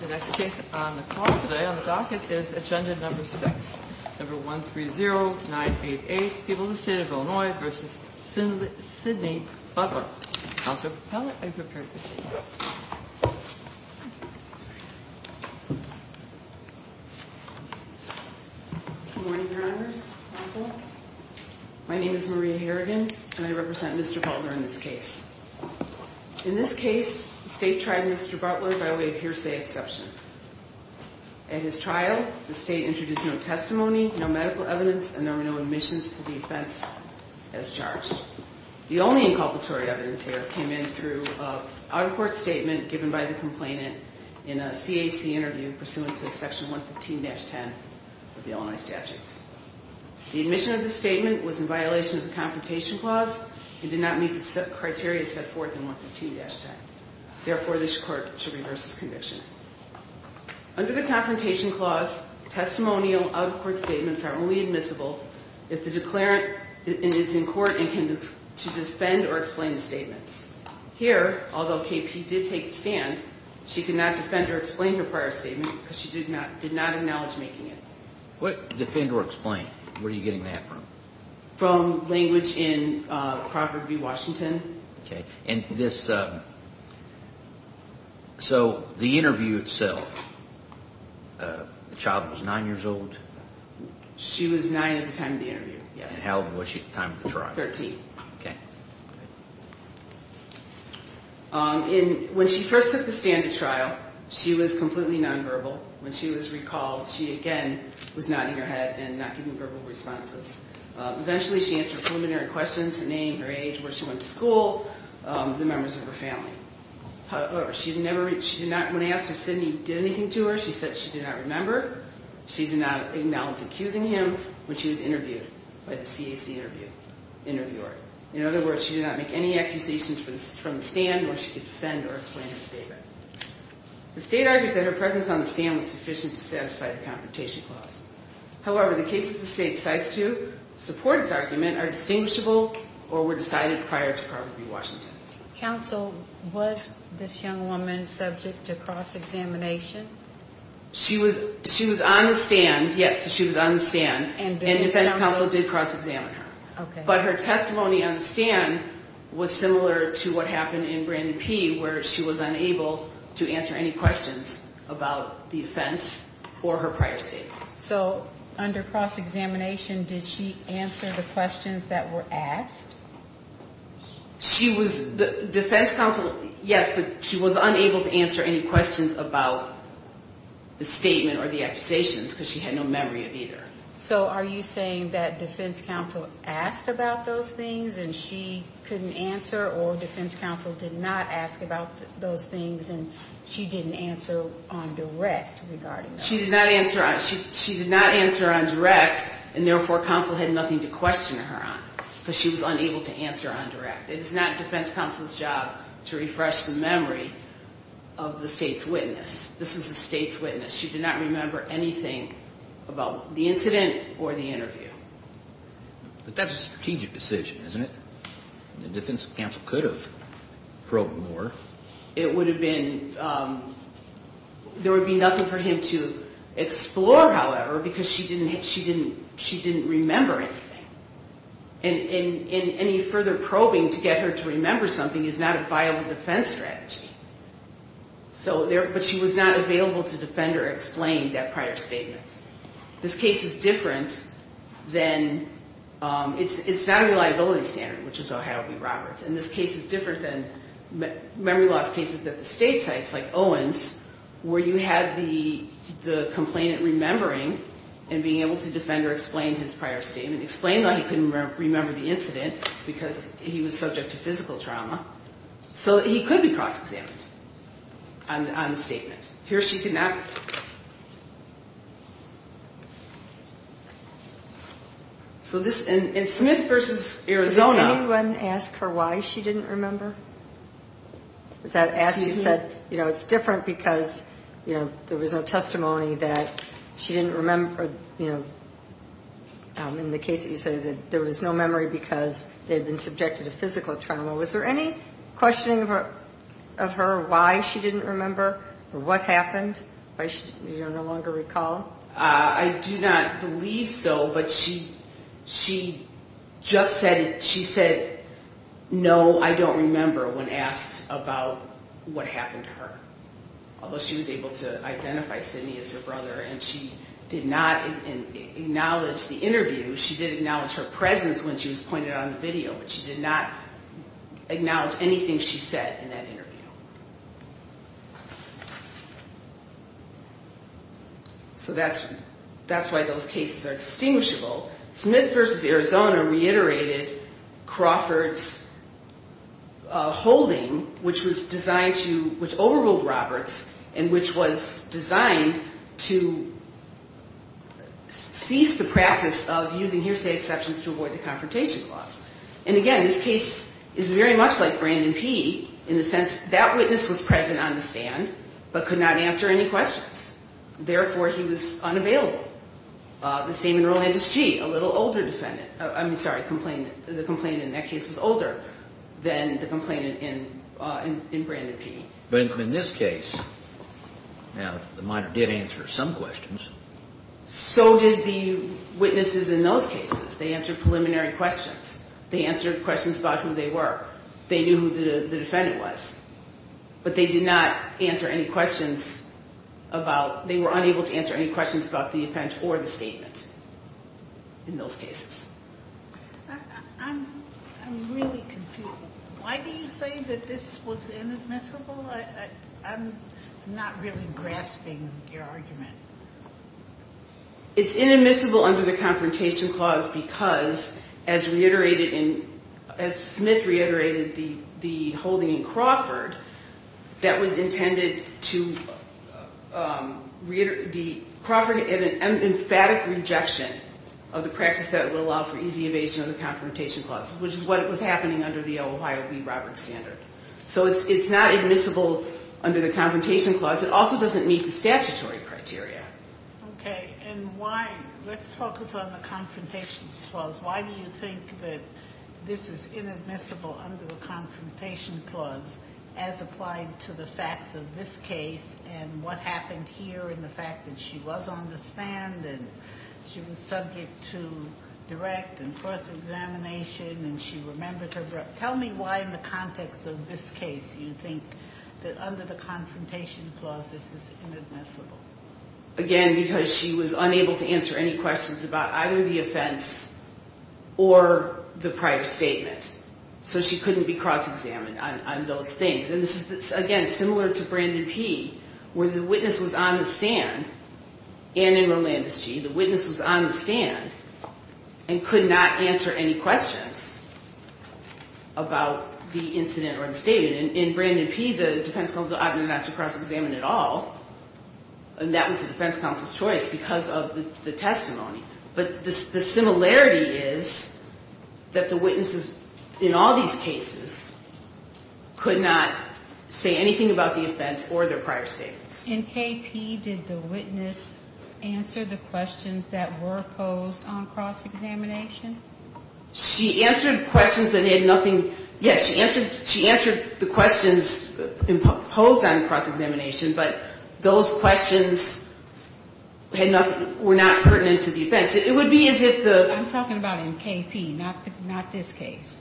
The next case on the call today on the docket is Agenda No. 6, No. 130988, People of the State of Illinois v. Sidney Butler. Counselor for Pellitt, are you prepared to proceed? Good morning, Your Honors. My name is Maria Harrigan, and I represent Mr. Butler in this case. In this case, the State tried Mr. Butler by way of hearsay exception. At his trial, the State introduced no testimony, no medical evidence, and there were no admissions to the offense as charged. The only inculpatory evidence here came in through an out-of-court statement given by the complainant in a CAC interview pursuant to Section 115-10 of the Illinois Statutes. The admission of the statement was in violation of the Confrontation Clause and did not meet the criteria set forth in 115-10. Therefore, this Court should reverse this conviction. Under the Confrontation Clause, testimonial out-of-court statements are only admissible if the declarant is in court and can defend or explain the statements. Here, although KP did take the stand, she could not defend or explain her prior statement because she did not acknowledge making it. What defend or explain? Where are you getting that from? From language in Crawford v. Washington. Okay. And this, so the interview itself, the child was nine years old? She was nine at the time of the interview, yes. And how old was she at the time of the trial? Thirteen. Okay. When she first took the stand at trial, she was completely nonverbal. When she was recalled, she again was nodding her head and not giving verbal responses. Eventually, she answered preliminary questions, her name, her age, where she went to school, the members of her family. However, she did not, when asked if Sidney did anything to her, she said she did not remember. She did not acknowledge accusing him when she was interviewed by the CAC interviewer. In other words, she did not make any accusations from the stand where she could defend or explain her statement. The state argues that her presence on the stand was sufficient to satisfy the confrontation clause. However, the cases the state cites to support its argument are distinguishable or were decided prior to Crawford v. Washington. Counsel, was this young woman subject to cross-examination? She was on the stand, yes, she was on the stand, and defense counsel did cross-examine her. But her testimony on the stand was similar to what happened in Brandon P., where she was unable to answer any questions about the offense or her prior statements. So under cross-examination, did she answer the questions that were asked? She was, defense counsel, yes, but she was unable to answer any questions about the statement or the accusations because she had no memory of either. So are you saying that defense counsel asked about those things and she couldn't answer, or defense counsel did not ask about those things and she didn't answer on direct regarding that? She did not answer on direct, and therefore, counsel had nothing to question her on because she was unable to answer on direct. It is not defense counsel's job to refresh the memory of the state's witness. She did not remember anything about the incident or the interview. But that's a strategic decision, isn't it? And defense counsel could have probed more. It would have been, there would be nothing for him to explore, however, because she didn't remember anything. And any further probing to get her to remember something is not a viable defense strategy. So there, but she was not available to defend or explain that prior statement. This case is different than, it's not a reliability standard, which is Ohio v. Roberts. And this case is different than memory loss cases at the state sites like Owens where you have the complainant remembering and being able to defend or explain his prior statement, explain why he couldn't remember the incident because he was subject to physical trauma. So he could be cross-examined on the statement. Here she could not. So this, in Smith v. Arizona. Did anyone ask her why she didn't remember? Was that after you said, you know, it's different because, you know, there was no testimony that she didn't remember, you know, in the case that you said that there was no memory because they had been subjected to physical trauma. Was there any questioning of her why she didn't remember or what happened? Do you no longer recall? I do not believe so, but she just said it. She said, no, I don't remember, when asked about what happened to her. Although she was able to identify Sidney as her brother and she did not acknowledge the interview. She did acknowledge her presence when she was pointed on the video, but she did not acknowledge anything she said in that interview. So that's why those cases are distinguishable. Smith v. Arizona reiterated Crawford's holding, which was designed to, which overruled Roberts and which was designed to cease the practice of using hearsay exceptions to avoid the confrontation clause. And, again, this case is very much like Brandon P., in the sense that witness was present on the stand but could not answer any questions. Therefore, he was unavailable. The same in Rolandus G., a little older defendant, I mean, sorry, the complainant in that case was older than the complainant in Brandon P. But in this case, now, the minor did answer some questions. So did the witnesses in those cases. They answered preliminary questions. They answered questions about who they were. They knew who the defendant was. But they did not answer any questions about, they were unable to answer any questions about the offense or the statement in those cases. It's inadmissible under the confrontation clause because, as reiterated in, as Smith reiterated the holding in Crawford, that was intended to, the Crawford had an emphatic rejection of the practice that would allow for easy evasion of the confrontation clause, which is what was happening under the Ohio v. Roberts standard. So it's not admissible under the confrontation clause. It also doesn't meet the statutory criteria. Okay, and why, let's focus on the confrontation clause. Why do you think that this is inadmissible under the confrontation clause as applied to the facts of this case and what happened here in the fact that she was on the stand and she was subject to direct and forced examination and she remembered her breath? Tell me why in the context of this case you think that under the confrontation clause this is inadmissible. Again, because she was unable to answer any questions about either the offense or the prior statement. So she couldn't be cross-examined on those things. And this is, again, similar to Brandon P., where the witness was on the stand, and in Rolandos G., the witness was on the stand and could not answer any questions. And in Brandon P., the defense counsel opted not to cross-examine at all. And that was the defense counsel's choice because of the testimony. But the similarity is that the witnesses in all these cases could not say anything about the offense or their prior statements. In KP, did the witness answer the questions that were posed on cross-examination? She answered questions that had nothing ñ yes, she answered the questions posed on cross-examination, but those questions had nothing ñ were not pertinent to the offense. It would be as if the ñ I'm talking about in KP, not this case.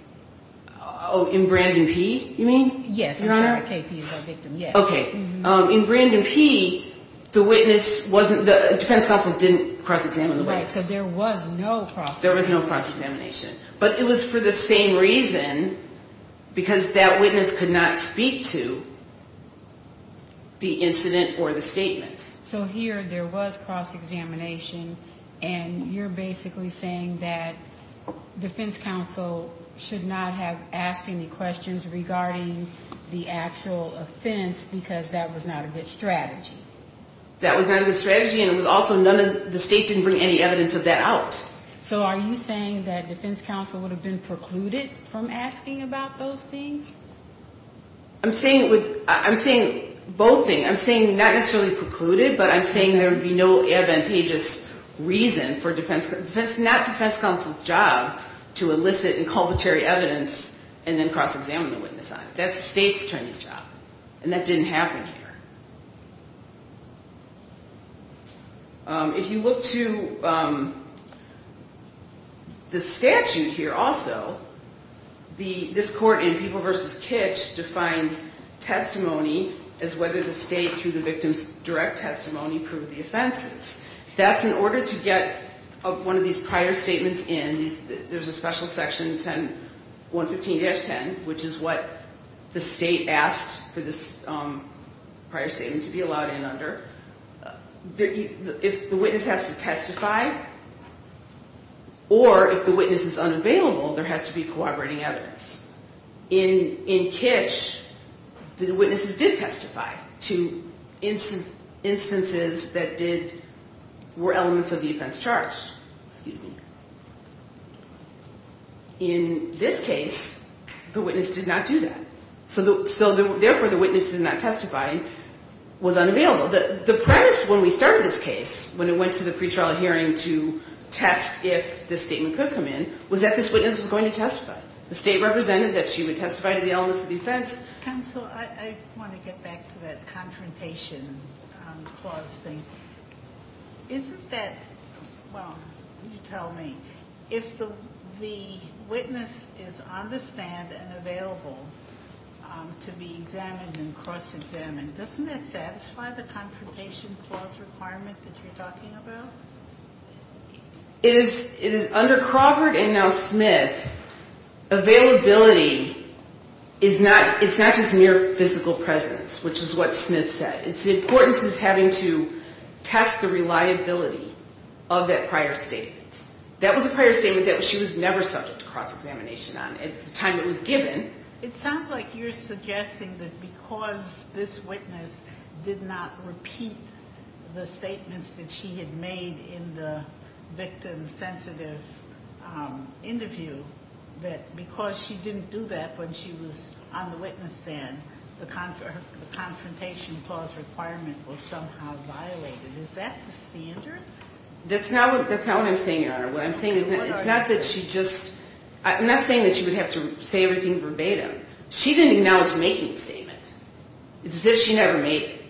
Oh, in Brandon P., you mean? Yes, I'm sorry, KP is our victim, yes. Okay. In Brandon P., the witness wasn't ñ the defense counsel didn't cross-examine the witness. Right, so there was no cross-examination. The defense counsel should not have asked any questions regarding the actual offense because that was not a good strategy. That was not a good strategy, and it was also none of ñ the state didn't bring any evidence of that out. So are you saying that defense counsel would have been precluded from asking about those things? I'm saying it would ñ I'm saying both things. I'm saying not necessarily precluded, but I'm saying there would be no advantageous reason for defense ñ not defense counsel's job. to elicit inculpatory evidence and then cross-examine the witness on it. That's the state's attorney's job, and that didn't happen here. If you look to the statute here also, this court in People v. Kitch defined testimony as whether the state, through the victim's direct testimony, proved the offenses. That's in order to get one of these prior statements in. There's a special section 115-10, which is what the state asked for this prior statement to be allowed in under. If the witness has to testify or if the witness is unavailable, there has to be corroborating evidence. In Kitch, the witnesses did testify to instances that did corroborate the evidence. In this case, the witness did not do that. So therefore, the witness did not testify, was unavailable. The premise when we started this case, when it went to the pretrial hearing to test if this statement could come in, was that this witness was going to testify. The state represented that she would testify to the elements of the offense. Counsel, I want to get back to that confrontation clause thing. Isn't that, well, you tell me. If the witness is on the stand and available to be examined and cross-examined, doesn't that satisfy the confrontation clause requirement that you're talking about? It is under Crawford and now Smith. Availability is not just mere physical presence, which is what Smith said. It's the importance of having to test the reliability of that prior statement. That was a prior statement that she was never subject to cross-examination on at the time it was given. It sounds like you're suggesting that because this witness did not repeat the statements that she had made in the victim-sensitive interview, that because she didn't do that when she was on the witness stand, the confrontation clause requirement was somehow violated. Is that the standard? That's not what I'm saying, Your Honor. I'm not saying that she would have to say everything verbatim. She didn't acknowledge making the statement. It's as if she never made it.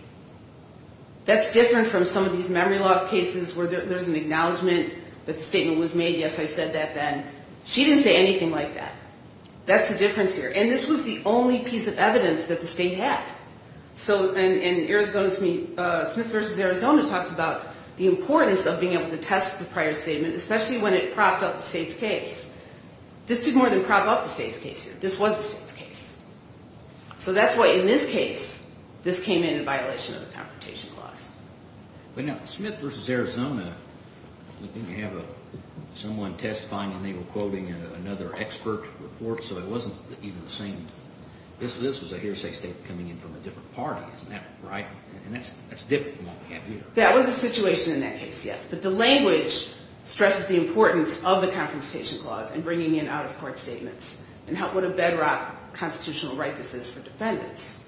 That's different from some of these memory loss cases where there's an acknowledgement that the statement was made, yes, I said that then. She didn't say anything like that. That's the difference here. And this was the only piece of evidence that the state had. And Smith v. Arizona talks about the importance of being able to test the prior statement, especially when it propped up the state's case. This did more than prop up the state's case here. This was the state's case. So that's why in this case this came in in violation of the confrontation clause. But now Smith v. Arizona, didn't you have someone testifying and they were quoting another expert report so it wasn't even the same? This was a hearsay statement coming in from a different party, isn't that right? And that's different from what we have here. That was a situation in that case, yes, but the language stresses the importance of the confrontation clause and bringing in out-of-court statements and what a bedrock constitutional right this is for defendants.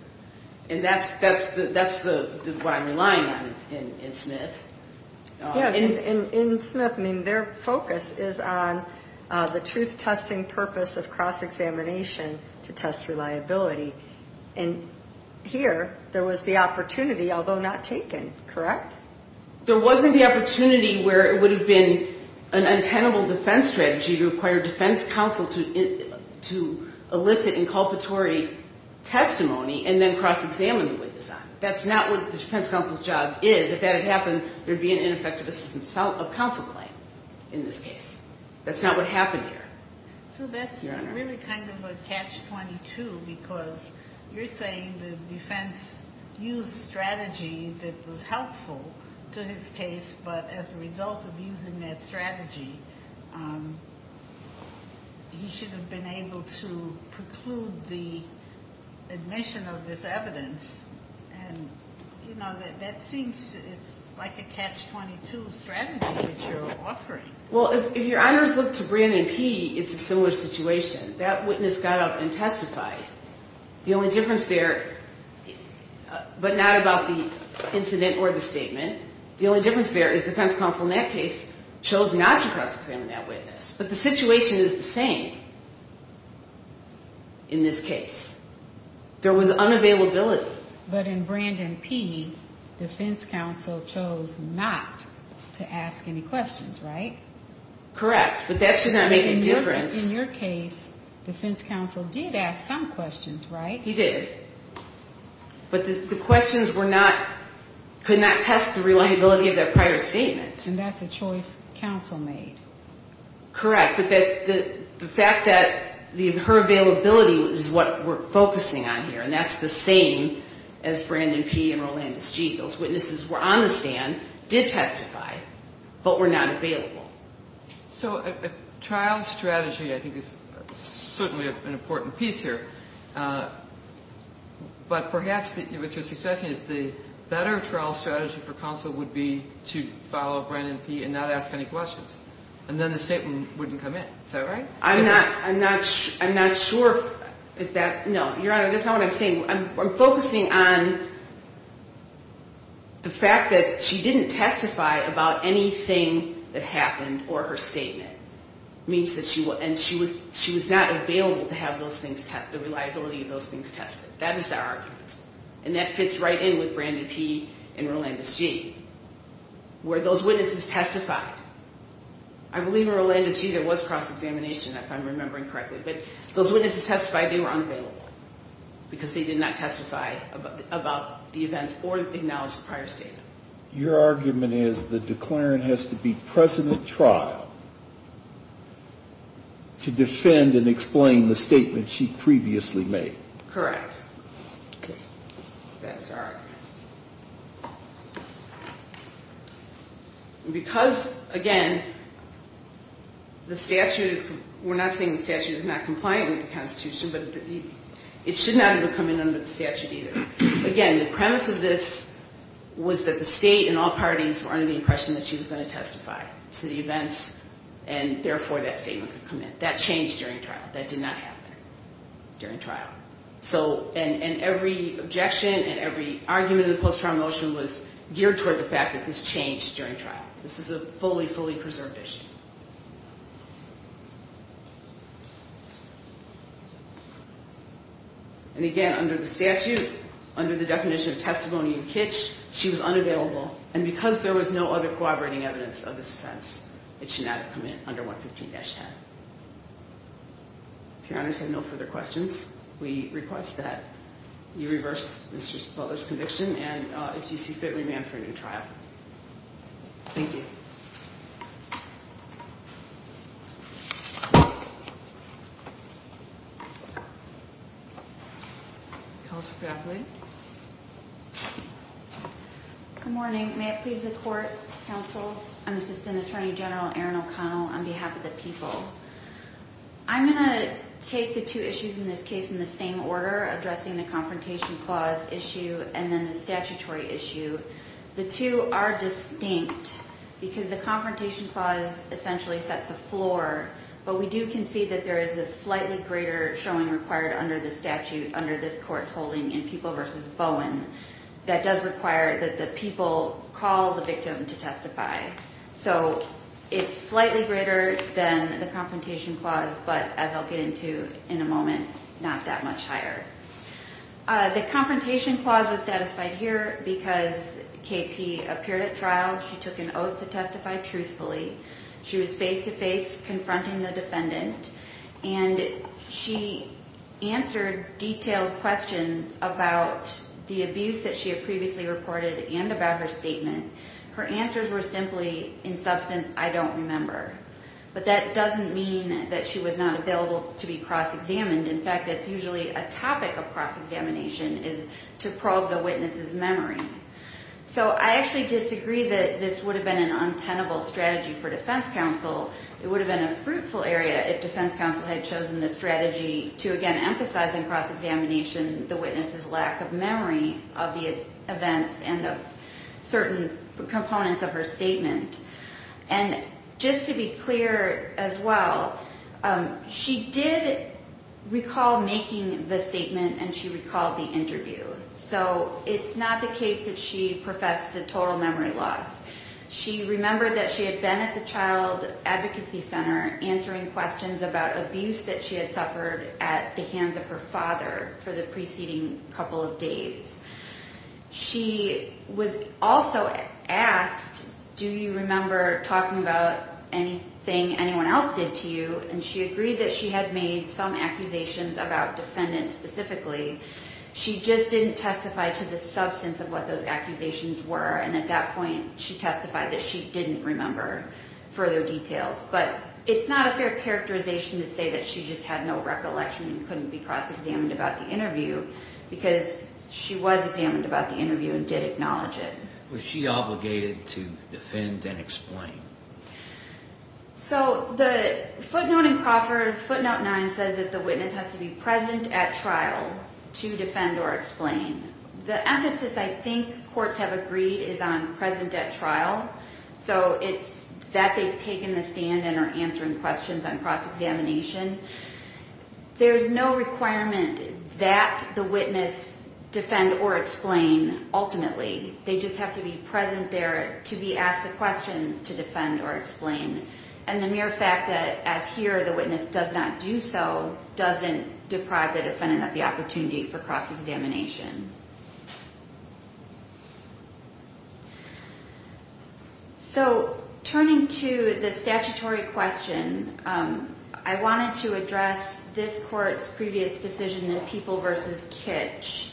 And that's what I'm relying on in Smith. In Smith, their focus is on the truth-testing purpose of cross-examination to test reliability. And here there was the opportunity, although not taken, correct? There wasn't the opportunity where it would have been an untenable defense strategy to require defense counsel to elicit inculpatory testimony and then cross-examine the witness on it. That's not what the defense counsel's job is. If that had happened, there would be an ineffective assistance of counsel claim in this case. That's not what happened here. So that's really kind of a catch-22 because you're saying the defense used strategy that was helpful to his case, but as a result of using that strategy, he should have been able to preclude the admission of this evidence. And, you know, that seems like a catch-22 strategy that you're offering. Well, if your honors look to Brannon P., it's a similar situation. That witness got up and testified. The only difference there, but not about the incident or the statement, the only difference there is defense counsel in that case chose not to cross-examine that witness. But the situation is the same in this case. There was unavailability. But in Brannon P., defense counsel chose not to ask any questions, right? Correct. But that should not make a difference. In your case, defense counsel did ask some questions, right? He did. But the questions were not, could not test the reliability of that prior statement. And that's a choice counsel made. Correct. But the fact that her availability is what we're focusing on here, and that's the same as Brannon P. and Rolandus G., those witnesses were on the stand, did testify, but were not available. So a trial strategy, I think, is certainly an important piece here. But perhaps what you're suggesting is the better trial strategy for counsel would be to follow Brannon P. and not ask any questions. And then the statement wouldn't come in. Is that right? I'm not sure if that, no. Your Honor, that's not what I'm saying. I'm focusing on the fact that she didn't testify about anything that happened or her statement. And she was not available to have the reliability of those things tested. That is our argument. And that fits right in with Brannon P. and Rolandus G., where those witnesses testified. I believe in Rolandus G. there was cross-examination, if I'm remembering correctly. But those witnesses testified they were unavailable because they did not testify about the events or acknowledge the prior statement. Your argument is the declarant has to be present at trial to defend and explain the statement she previously made. Correct. That is our argument. Because, again, the statute is we're not saying the statute is not compliant with the Constitution, but it should not have come in under the statute either. Again, the premise of this was that the state and all parties were under the impression that she was going to testify to the events, and therefore that statement could come in. That changed during trial. That did not happen during trial. And every objection and every argument in the post-trial motion was geared toward the fact that this changed during trial. This is a fully, fully preserved issue. And, again, under the statute, under the definition of testimony and kitsch, she was unavailable, and because there was no other corroborating evidence of this offense, it should not have come in under 115-10. If your honors have no further questions, we request that you reverse Mr. Butler's conviction and a T.C. Fitt remand for a new trial. Thank you. Good morning. May it please the Court, Counsel, Assistant Attorney General Erin O'Connell, on behalf of the people. I'm going to take the two issues in this case in the same order, addressing the Confrontation Clause issue and then the statutory issue. The two are distinct, because the Confrontation Clause essentially sets a floor, but we do concede that there is a slightly greater showing required under this statute, under this Court's holding in People v. Bowen, that does require that the people call the victim to testify. So it's slightly greater than the Confrontation Clause, but as I'll get into in a moment, not that much higher. The Confrontation Clause was satisfied here because KP appeared at trial. She took an oath to testify truthfully. She was face-to-face confronting the defendant, and she answered detailed questions about the abuse that she had previously reported and about her statement. Her answers were simply, in substance, I don't remember. But that doesn't mean that she was not available to be cross-examined. In fact, it's usually a topic of cross-examination is to probe the witness's memory. So I actually disagree that this would have been an untenable strategy for defense counsel. It would have been a fruitful area if defense counsel had chosen the strategy to, again, emphasize in cross-examination the witness's lack of memory of the events and of certain things that had happened. So that's one of the components of her statement. And just to be clear as well, she did recall making the statement, and she recalled the interview. So it's not the case that she professed a total memory loss. She remembered that she had been at the Child Advocacy Center answering questions about abuse that she had suffered at the hands of her father for the preceding couple of days. She was also asked, do you remember talking about anything anyone else did to you? And she agreed that she had made some accusations about defendants specifically. She just didn't testify to the substance of what those accusations were. And at that point, she testified that she didn't remember further details. But it's not a fair characterization to say that she just had no recollection and couldn't be cross-examined about the interview, because she was examined about the interview and did acknowledge it. Was she obligated to defend and explain? So the footnote in Crawford, footnote 9, says that the witness has to be present at trial to defend or explain. The emphasis, I think, courts have agreed is on present at trial. So it's that they've taken the stand and are answering questions on cross-examination. There's no requirement that the witness defend or explain, ultimately. They just have to be present there to be asked the questions to defend or explain. And the mere fact that, as here, the witness does not do so doesn't deprive the defendant of the opportunity for cross-examination. So turning to the statutory question, I wanted to address this court's previous decision in People v. Kitch,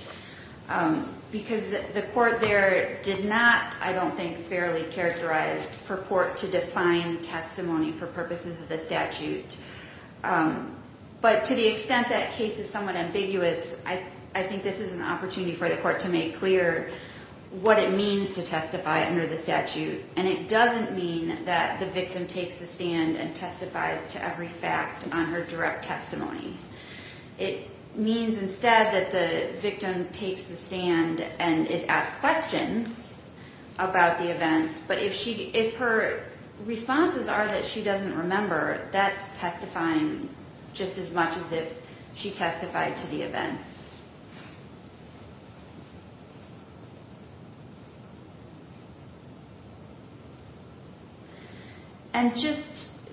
because the court there did not, I don't think, fairly characterize for court to define testimony for purposes of the statute. But to the extent that case is somewhat ambiguous, I think this is an opportunity for the court to make clear what it means to testify under the statute. And it doesn't mean that the victim takes the stand and testifies to every fact on her direct testimony. It means, instead, that the victim takes the stand and is asked questions about the events. But if her responses are that she doesn't remember, that's testifying just as much as if she testified to the events.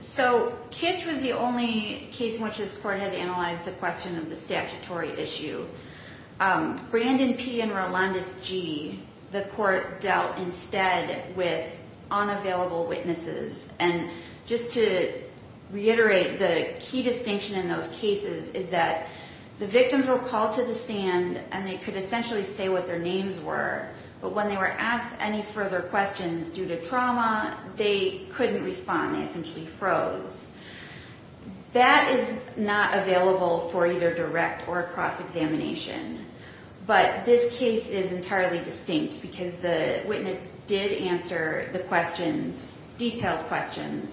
So Kitch was the only case in which this court has analyzed the question of the statutory issue. Brandon P. and Rolandis G., the court dealt instead with unavailable witnesses. And just to reiterate, the key distinction in those cases is that the victims were called to the stand and they could essentially say what their names were. But when they were asked any further questions due to trauma, they couldn't respond. They essentially froze. That is not available for either direct or cross-examination. But this case is entirely distinct because the witness did answer the questions, detailed questions.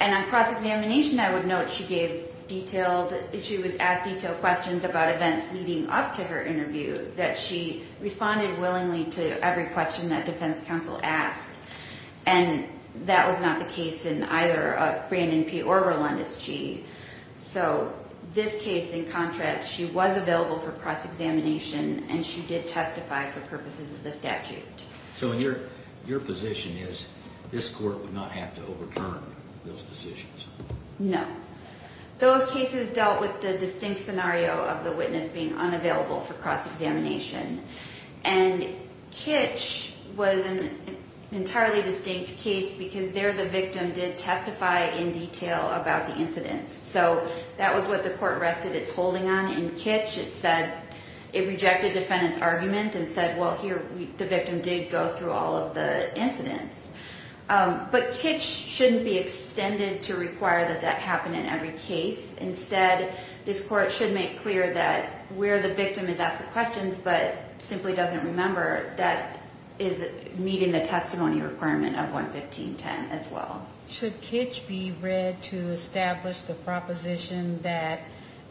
And on cross-examination, I would note she was asked detailed questions about events leading up to her interview, that she responded willingly to every question that defense counsel asked. And that was not the case in either Brandon P. or Rolandis G. So this case, in contrast, she was available for cross-examination and she did testify for purposes of the statute. So your position is this court would not have to overturn those decisions? No. Those cases dealt with the distinct scenario of the witness being unavailable for cross-examination. And Kitch was an entirely distinct case because there the victim did testify in detail about the incident. So that was what the court rested its holding on in Kitch. It rejected defendant's argument and said, well, here, the victim did go through all of the incidents. But Kitch shouldn't be extended to require that that happen in every case. Instead, this court should make clear that where the victim is asked the questions but simply doesn't remember, that is meeting the testimony requirement of 115.10 as well. Should Kitch be read to establish the proposition that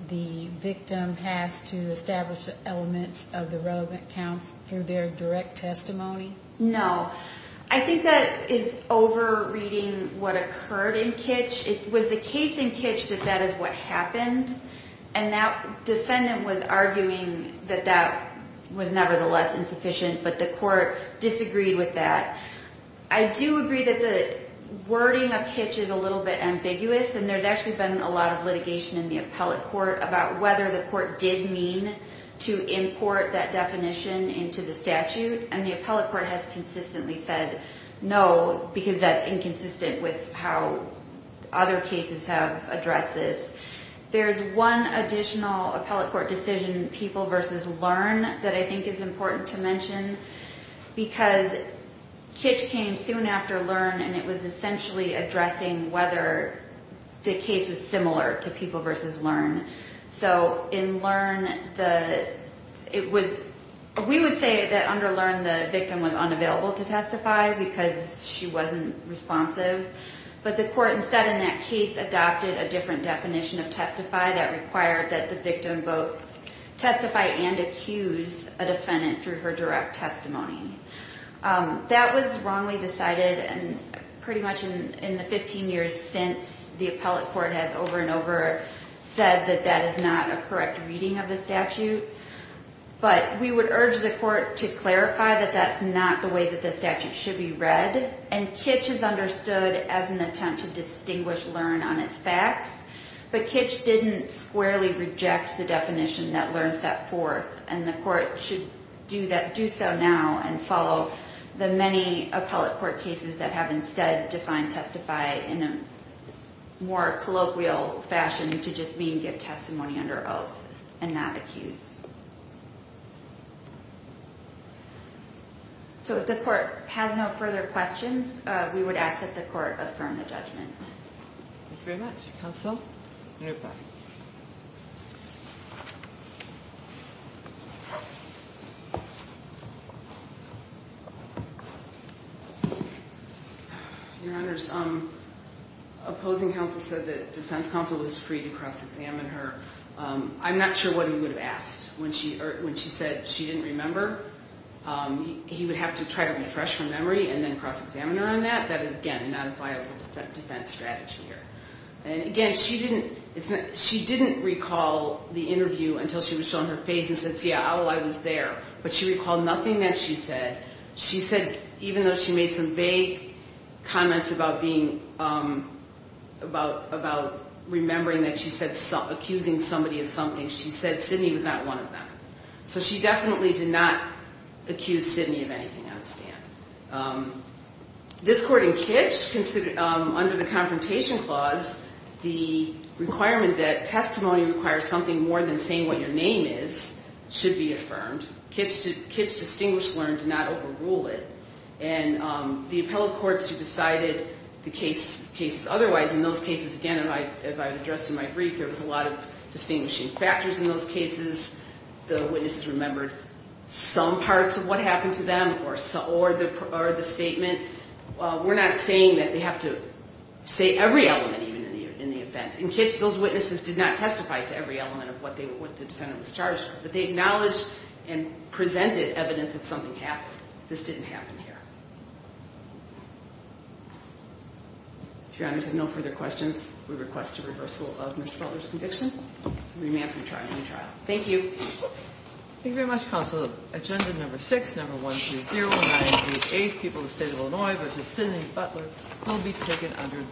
the victim has to establish elements of the relevant counts through their direct testimony? No. I think that is over-reading what occurred in Kitch. It was the case in Kitch that that is what happened. And that defendant was arguing that that was nevertheless insufficient, but the court disagreed with that. I do agree that the wording of Kitch is a little bit ambiguous. And there's actually been a lot of litigation in the appellate court about whether the court did mean to import that definition into the statute. And the appellate court has consistently said no because that's inconsistent with how other cases have addressed this. There's one additional appellate court decision, People v. Learn, that I think is important to mention. Because Kitch came soon after Learn, and it was essentially addressing whether the case was similar to People v. Learn. So in Learn, we would say that under Learn the victim was unavailable to testify because she wasn't responsive. But the court instead in that case adopted a different definition of testify that required that the victim both testify and accuse a defendant through her direct testimony. That was wrongly decided pretty much in the 15 years since the appellate court has over and over said that that is not a correct reading of the statute. But we would urge the court to clarify that that's not the way that the statute should be read. And Kitch is understood as an attempt to distinguish Learn on its facts. But Kitch didn't squarely reject the definition that Learn set forth. And the court should do so now and follow the many appellate court cases that have instead defined testify in a more colloquial fashion to just mean give testimony under oath and not accuse. So if the court has no further questions, we would ask that the court affirm the judgment. Thank you very much. Counsel, you're back. Your Honors, opposing counsel said that defense counsel was free to cross-examine her. I'm not sure what he would have asked when she said she didn't remember. He would have to try to refresh her memory and then cross-examine her on that. That is, again, not a viable defense strategy here. And again, she didn't recall the interview until she was shown her face and said, yeah, I was there. But she recalled nothing that she said. She said even though she made some vague comments about remembering that she said accusing somebody of something, she said Sidney was not one of them. So she definitely did not accuse Sidney of anything on the stand. This court in Kitch, under the Confrontation Clause, the requirement that testimony requires something more than saying what your name is should be affirmed. Kitch distinguished learned to not overrule it. And the appellate courts who decided the cases otherwise, in those cases, again, as I addressed in my brief, there was a lot of distinguishing factors in those cases. The witnesses remembered some parts of what happened to them or the statement. We're not saying that they have to say every element even in the offense. In Kitch, those witnesses did not testify to every element of what the defendant was charged. But they acknowledged and presented evidence that something happened. This didn't happen here. If your honors have no further questions, we request a reversal of Mr. Butler's conviction. Thank you.